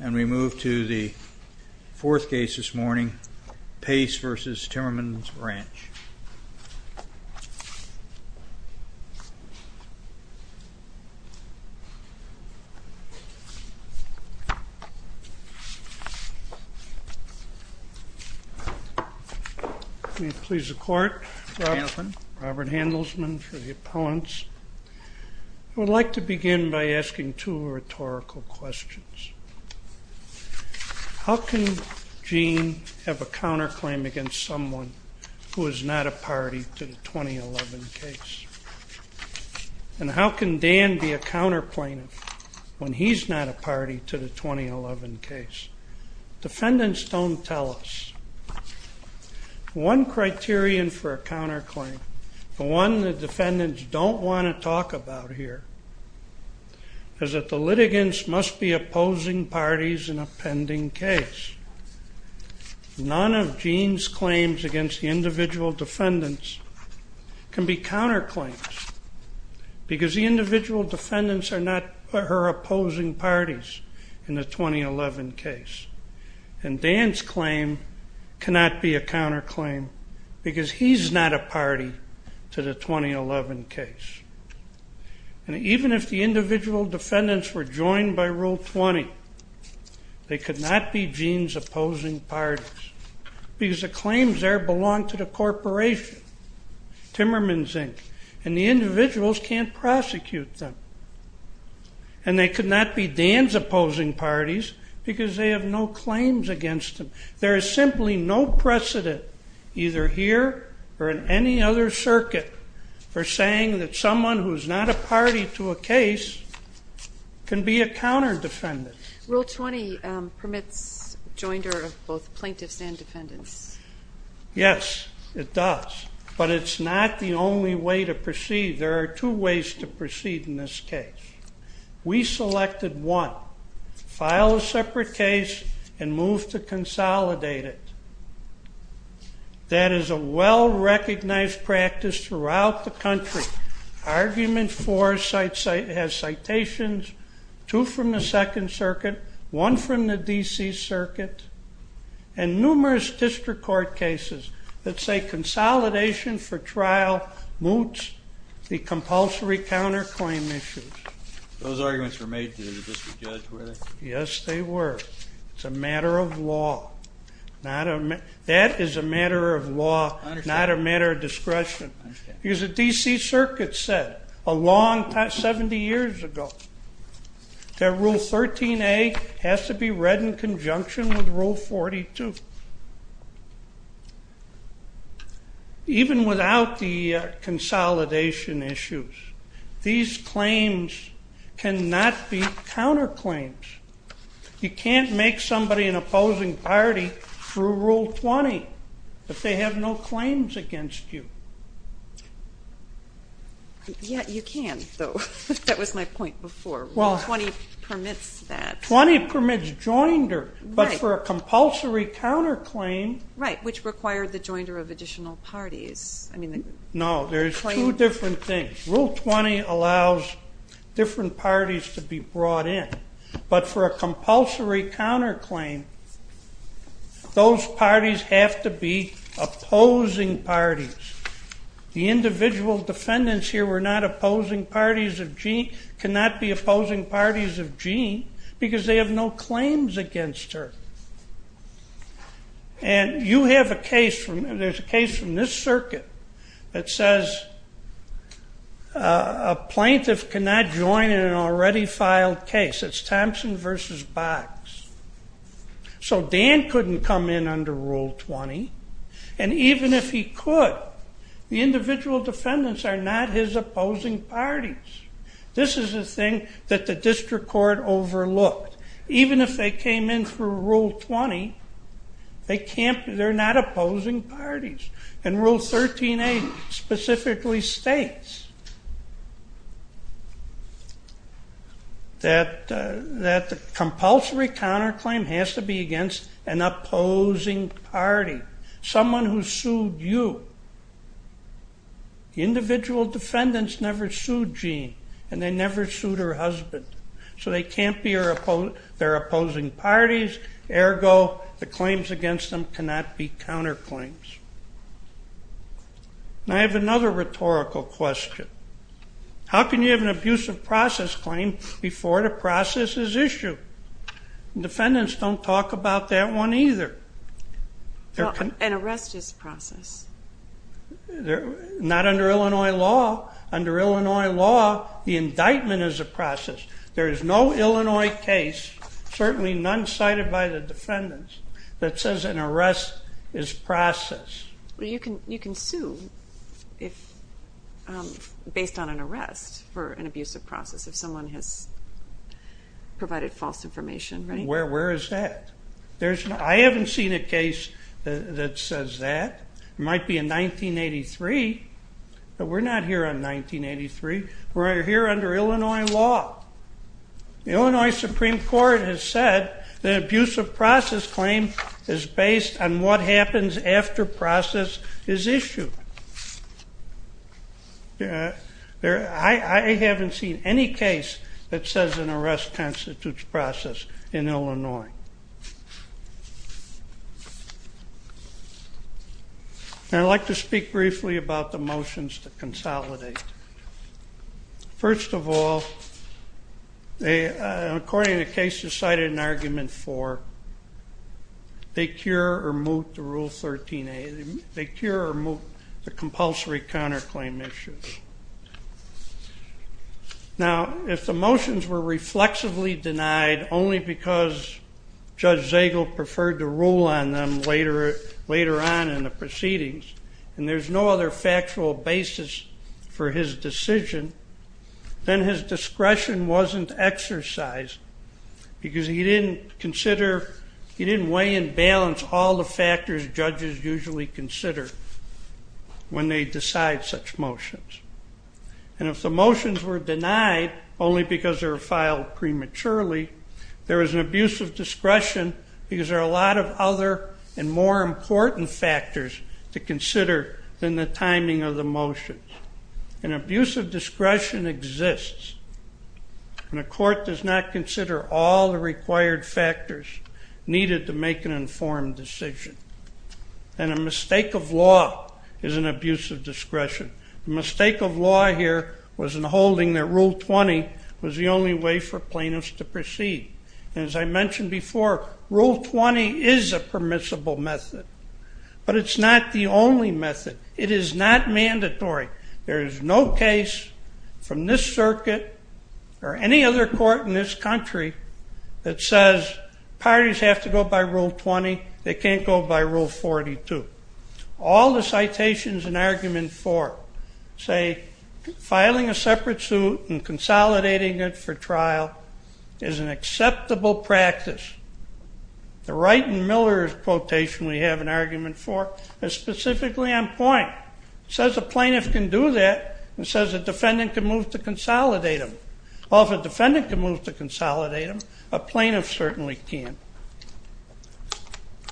And we move to the fourth case this morning, Pace v. Timmerman's Ranch. May it please the court. Robert Handelsman. I would like to begin by asking two rhetorical questions. How can Jeanne have a counterclaim against someone who is not a party to the 2011 case? And how can Dan be a counterplaintiff when he's not a party to the 2011 case? Defendants don't tell us. One criterion for a counterclaim, the one the defendants don't want to talk about here, is that the litigants must be opposing parties in a pending case. None of Jeanne's claims against the individual defendants can be counterclaims because the individual defendants are not her opposing parties in the 2011 case. And Dan's claim cannot be a counterclaim because he's not a party to the 2011 case. And even if the individual defendants were joined by Rule 20, they could not be Jeanne's opposing parties because the claims there belong to the corporation, Timmerman's Inc., and the individuals can't prosecute them. And they could not be Dan's opposing parties because they have no claims against them. There is simply no precedent, either here or in any other circuit, for saying that someone who is not a party to a case can be a counterdefendant. Rule 20 permits joinder of both plaintiffs and defendants. Yes, it does. But it's not the only way to proceed. There are two ways to proceed in this case. We selected one, file a separate case and move to consolidate it. That is a well-recognized practice throughout the country. Argument 4 has citations, two from the Second Circuit, one from the D.C. Circuit, and numerous district court cases that say consolidation for trial moots the compulsory counterclaim issues. Those arguments were made to the district judge, were they? Yes, they were. It's a matter of law. That is a matter of law, not a matter of discretion. Because the D.C. Circuit said a long time, 70 years ago, that Rule 13A has to be read in conjunction with Rule 42. Even without the consolidation issues, these claims cannot be counterclaims. You can't make somebody an opposing party through Rule 20 if they have no claims against you. Yeah, you can, though. That was my point before. Rule 20 permits that. Rule 20 permits joinder, but for a compulsory counterclaim. Right, which required the joinder of additional parties. No, there's two different things. Rule 20 allows different parties to be brought in, but for a compulsory counterclaim, those parties have to be opposing parties. The individual defendants here were not opposing parties of Jean, cannot be opposing parties of Jean because they have no claims against her. And you have a case from this circuit that says a plaintiff cannot join in an already filed case. It's Thompson v. Box. So Dan couldn't come in under Rule 20, and even if he could, the individual defendants are not his opposing parties. This is a thing that the district court overlooked. Even if they came in through Rule 20, they're not opposing parties. And Rule 13a specifically states that the compulsory counterclaim has to be against an opposing party, someone who sued you. Individual defendants never sued Jean, and they never sued her husband. So they can't be their opposing parties. Ergo, the claims against them cannot be counterclaims. I have another rhetorical question. How can you have an abusive process claim before the process is issued? Defendants don't talk about that one either. An arrest is a process. Not under Illinois law. Under Illinois law, the indictment is a process. There is no Illinois case, certainly none cited by the defendants, that says an arrest is process. You can sue based on an arrest for an abusive process if someone has provided false information, right? Where is that? I haven't seen a case that says that. It might be in 1983, but we're not here in 1983. We're here under Illinois law. The Illinois Supreme Court has said that an abusive process claim is based on what happens after process is issued. I haven't seen any case that says an arrest constitutes process in Illinois. I'd like to speak briefly about the motions to consolidate. First of all, according to the case you cited in argument four, they cure or moot the rule 13A. They cure or moot the compulsory counterclaim issue. Now, if the motions were reflexively denied only because Judge Zagel preferred to rule on them later on in the proceedings, and there's no other factual basis for his decision, then his discretion wasn't exercised because he didn't consider, he didn't weigh and balance all the factors judges usually consider when they decide such motions. And if the motions were denied only because they were filed prematurely, there was an abuse of discretion because there are a lot of other and more important factors to consider than the timing of the motions. An abuse of discretion exists when a court does not consider all the required factors needed to make an informed decision. And a mistake of law is an abuse of discretion. The mistake of law here was in holding that Rule 20 was the only way for plaintiffs to proceed. And as I mentioned before, Rule 20 is a permissible method, but it's not the only method. It is not mandatory. There is no case from this circuit or any other court in this country that says parties have to go by Rule 20. They can't go by Rule 42. All the citations in Argument 4 say filing a separate suit and consolidating it for trial is an acceptable practice. The Wright and Miller quotation we have in Argument 4 is specifically on point. It says a plaintiff can do that. It says a defendant can move to consolidate them. Well, if a defendant can move to consolidate them, a plaintiff certainly can.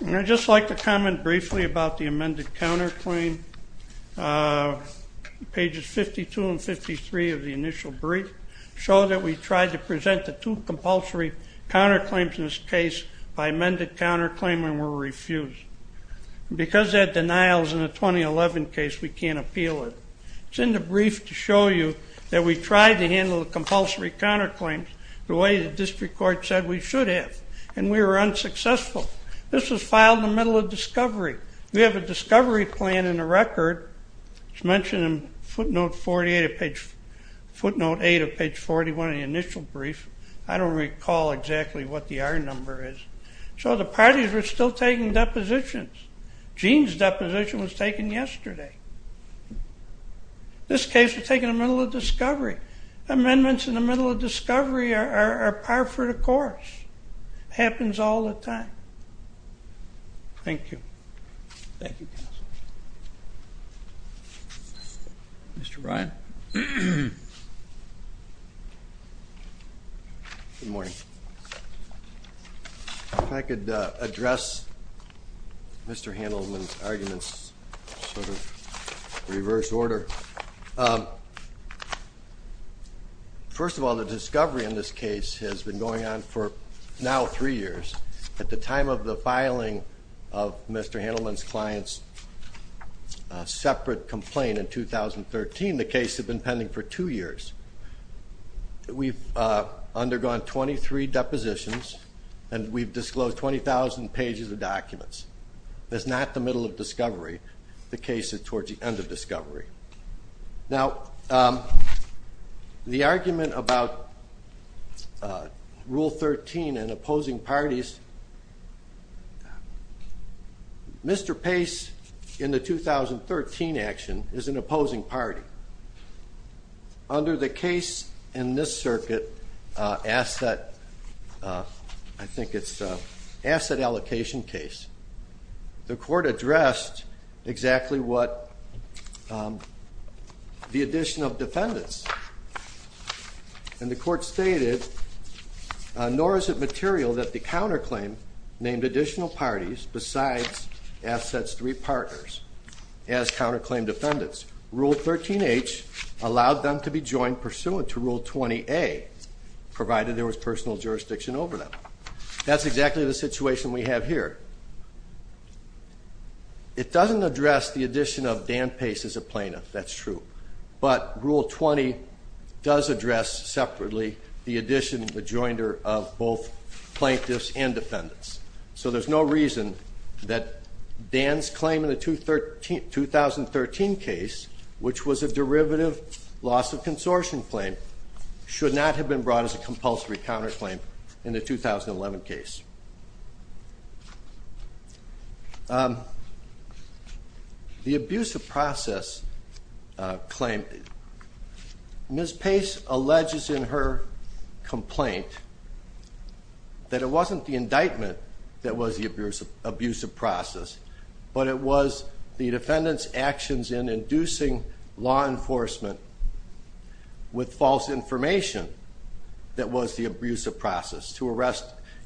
And I'd just like to comment briefly about the amended counterclaim. Pages 52 and 53 of the initial brief show that we tried to present the two compulsory counterclaims in this case by amended counterclaim and were refused. Because that denial is in the 2011 case, we can't appeal it. It's in the brief to show you that we tried to handle the compulsory counterclaims the way the district court said we should have, and we were unsuccessful. This was filed in the middle of discovery. We have a discovery plan in the record. It's mentioned in footnote 8 of page 41 of the initial brief. I don't recall exactly what the R number is. So the parties were still taking depositions. Gene's deposition was taken yesterday. This case was taken in the middle of discovery. Amendments in the middle of discovery are par for the course. It happens all the time. Thank you. Thank you, counsel. Mr. Bryan. Good morning. If I could address Mr. Handelman's arguments sort of in reverse order. First of all, the discovery in this case has been going on for now three years. At the time of the filing of Mr. Handelman's client's separate complaint in 2013, the case had been pending for two years. We've undergone 23 depositions, and we've disclosed 20,000 pages of documents. It's not the middle of discovery. The case is towards the end of discovery. Now, the argument about Rule 13 and opposing parties, Mr. Pace in the 2013 action is an opposing party. Under the case in this circuit, asset, I think it's asset allocation case, the court addressed exactly what the addition of defendants, and the court stated, nor is it material that the counterclaim named additional parties besides assets three partners as counterclaim defendants. Rule 13H allowed them to be joined pursuant to Rule 20A, provided there was personal jurisdiction over them. That's exactly the situation we have here. It doesn't address the addition of Dan Pace as a plaintiff, that's true, but Rule 20 does address separately the addition, the joinder of both plaintiffs and defendants. So there's no reason that Dan's claim in the 2013 case, which was a derivative loss of consortium claim, should not have been brought as a compulsory counterclaim in the 2011 case. The abusive process claim, Ms. Pace alleges in her complaint that it wasn't the indictment that was the abusive process, but it was the defendant's actions in inducing law enforcement with false information that was the abusive process to arrest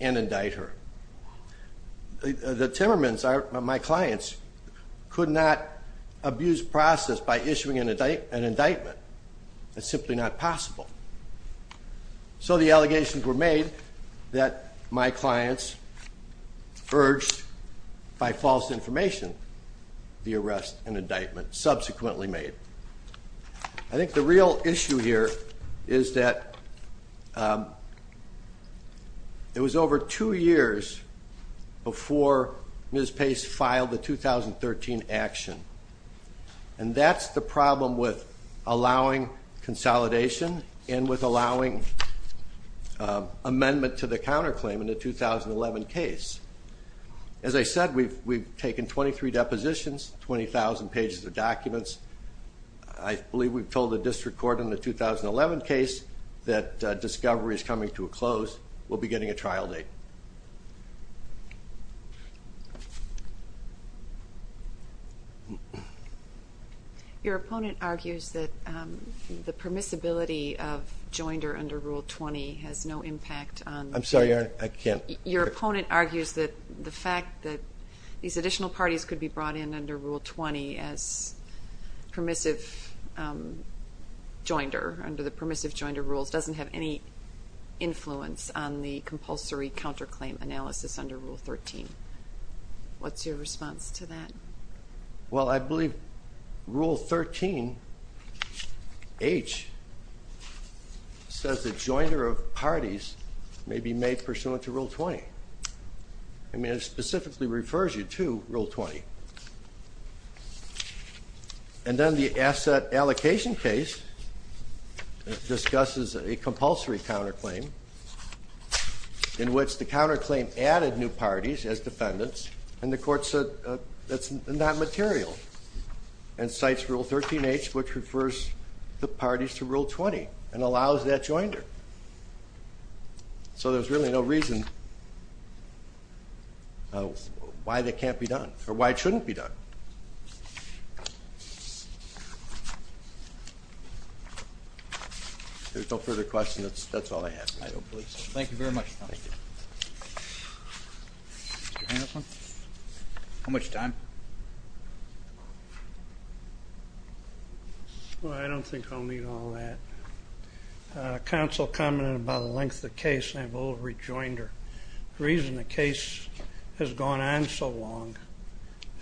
and indict her. The Timmermans, my clients, could not abuse process by issuing an indictment. It's simply not possible. So the allegations were made that my clients urged by false information the arrest and indictment subsequently made. I think the real issue here is that it was over two years before Ms. Pace filed the 2013 action, and that's the problem with allowing consolidation and with allowing amendment to the counterclaim in the 2011 case. As I said, we've taken 23 depositions, 20,000 pages of documents. I believe we've told the district court in the 2011 case that discovery is coming to a close. We'll be getting a trial date. Your opponent argues that the permissibility of joinder under Rule 20 has no impact on- I'm sorry, I can't- Your opponent argues that the fact that these additional parties could be brought in under Rule 20 as permissive joinder under the permissive joinder rules doesn't have any influence on the compulsory counterclaim analysis under Rule 13. What's your response to that? Well, I believe Rule 13H says that joinder of parties may be made pursuant to Rule 20. I mean, it specifically refers you to Rule 20. And then the asset allocation case discusses a compulsory counterclaim in which the counterclaim added new parties as defendants, and the court said that's not material and cites Rule 13H, which refers the parties to Rule 20 and allows that joinder. So there's really no reason why that can't be done or why it shouldn't be done. If there's no further questions, that's all I have. I don't believe so. Thank you very much. Thank you. Mr. Hanselman? How much time? Well, I don't think I'll need all that. Counsel commented about the length of the case, and I have a little rejoinder. The reason the case has gone on so long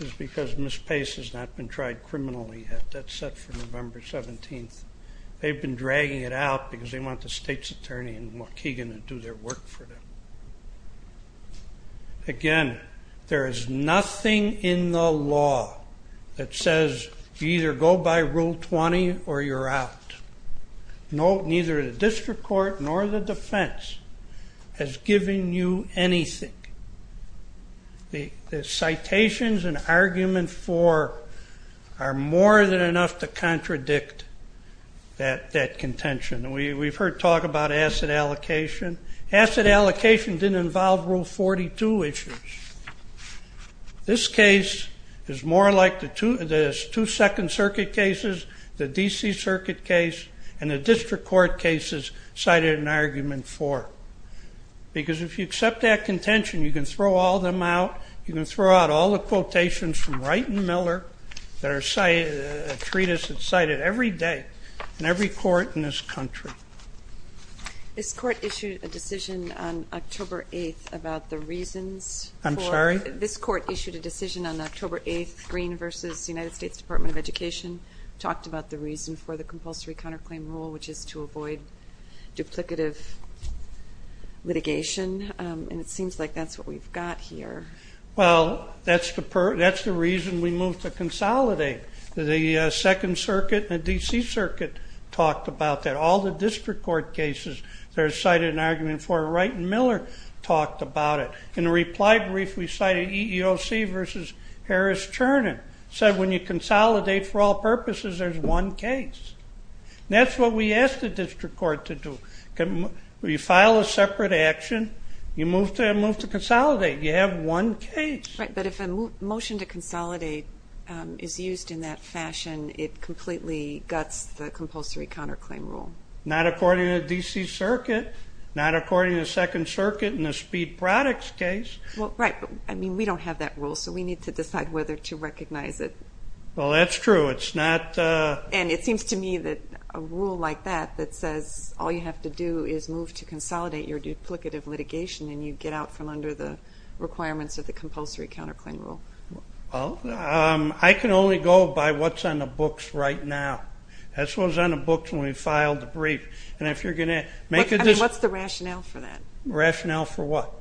is because Ms. Pace has not been tried criminally yet. That's set for November 17th. They've been dragging it out because they want the state's attorney in Mohegan to do their work for them. Again, there is nothing in the law that says you either go by Rule 20 or you're out. Neither the district court nor the defense has given you anything. The citations in Argument 4 are more than enough to contradict that contention. We've heard talk about asset allocation. Asset allocation didn't involve Rule 42 issues. This case is more like the two Second Circuit cases, the D.C. Circuit case, and the district court cases cited in Argument 4. Because if you accept that contention, you can throw all them out. You can throw out all the quotations from Wright and Miller that are a treatise that's cited every day in every court in this country. This court issued a decision on October 8th about the reasons for... I'm sorry? This court issued a decision on October 8th. Green v. United States Department of Education talked about the reason for the compulsory counterclaim rule, which is to avoid duplicative litigation, and it seems like that's what we've got here. Well, that's the reason we moved to consolidate. The Second Circuit and the D.C. Circuit talked about that. All the district court cases that are cited in Argument 4, Wright and Miller talked about it. In the reply brief, we cited EEOC v. Harris-Chernin. Said when you consolidate for all purposes, there's one case. That's what we asked the district court to do. When you file a separate action, you move to consolidate. You have one case. Right, but if a motion to consolidate is used in that fashion, it completely guts the compulsory counterclaim rule. Not according to the D.C. Circuit, not according to the Second Circuit in the Speed Products case. Well, right, but, I mean, we don't have that rule, so we need to decide whether to recognize it. Well, that's true. And it seems to me that a rule like that that says all you have to do is move to consolidate your duplicative litigation and you get out from under the requirements of the compulsory counterclaim rule. Well, I can only go by what's on the books right now. That's what was on the books when we filed the brief. And if you're going to make a decision. What's the rationale for that? Rationale for what?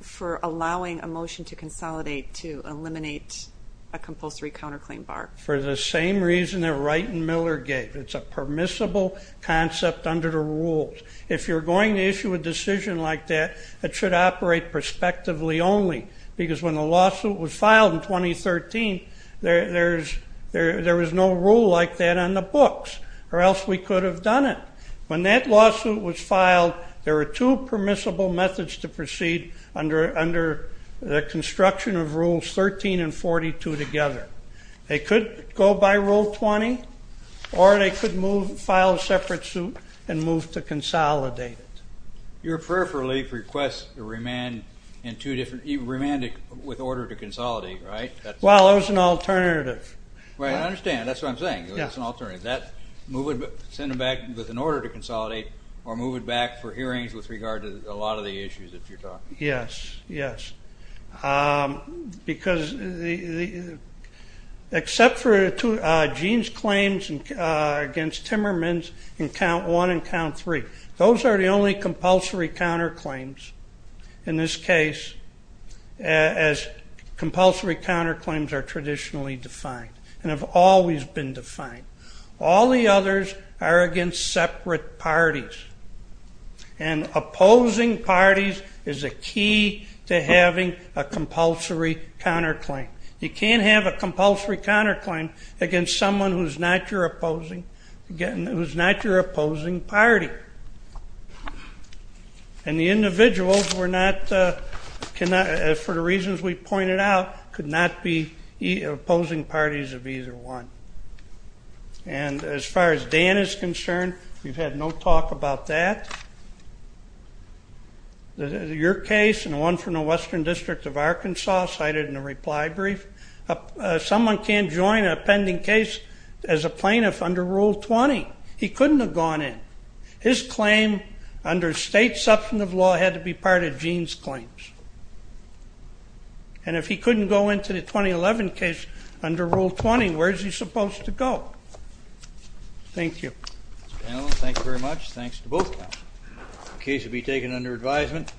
For allowing a motion to consolidate to eliminate a compulsory counterclaim bar. For the same reason that Wright and Miller gave. It's a permissible concept under the rules. If you're going to issue a decision like that, it should operate prospectively only. Because when the lawsuit was filed in 2013, there was no rule like that on the books. Or else we could have done it. When that lawsuit was filed, there were two permissible methods to proceed under the construction of rules 13 and 42 together. They could go by Rule 20, or they could file a separate suit and move to consolidate it. Your prayer for relief request remained with order to consolidate, right? Well, it was an alternative. I understand. That's what I'm saying. It was an alternative. Send it back with an order to consolidate or move it back for hearings with regard to a lot of the issues that you're talking about. Yes, yes. Because except for Gene's claims against Timmermans in count one and count three, those are the only compulsory counterclaims in this case as compulsory counterclaims are traditionally defined and have always been defined. All the others are against separate parties. And opposing parties is a key to having a compulsory counterclaim. You can't have a compulsory counterclaim against someone who's not your opposing party. And the individuals were not, for the reasons we pointed out, could not be opposing parties of either one. And as far as Dan is concerned, we've had no talk about that. Your case and the one from the Western District of Arkansas cited in the reply brief, someone can't join an appending case as a plaintiff under Rule 20. He couldn't have gone in. His claim under state substantive law had to be part of Gene's claims. And if he couldn't go into the 2011 case under Rule 20, where is he supposed to go? Thank you. Thank you very much. Thanks to both of you. The case will be taken under advisement.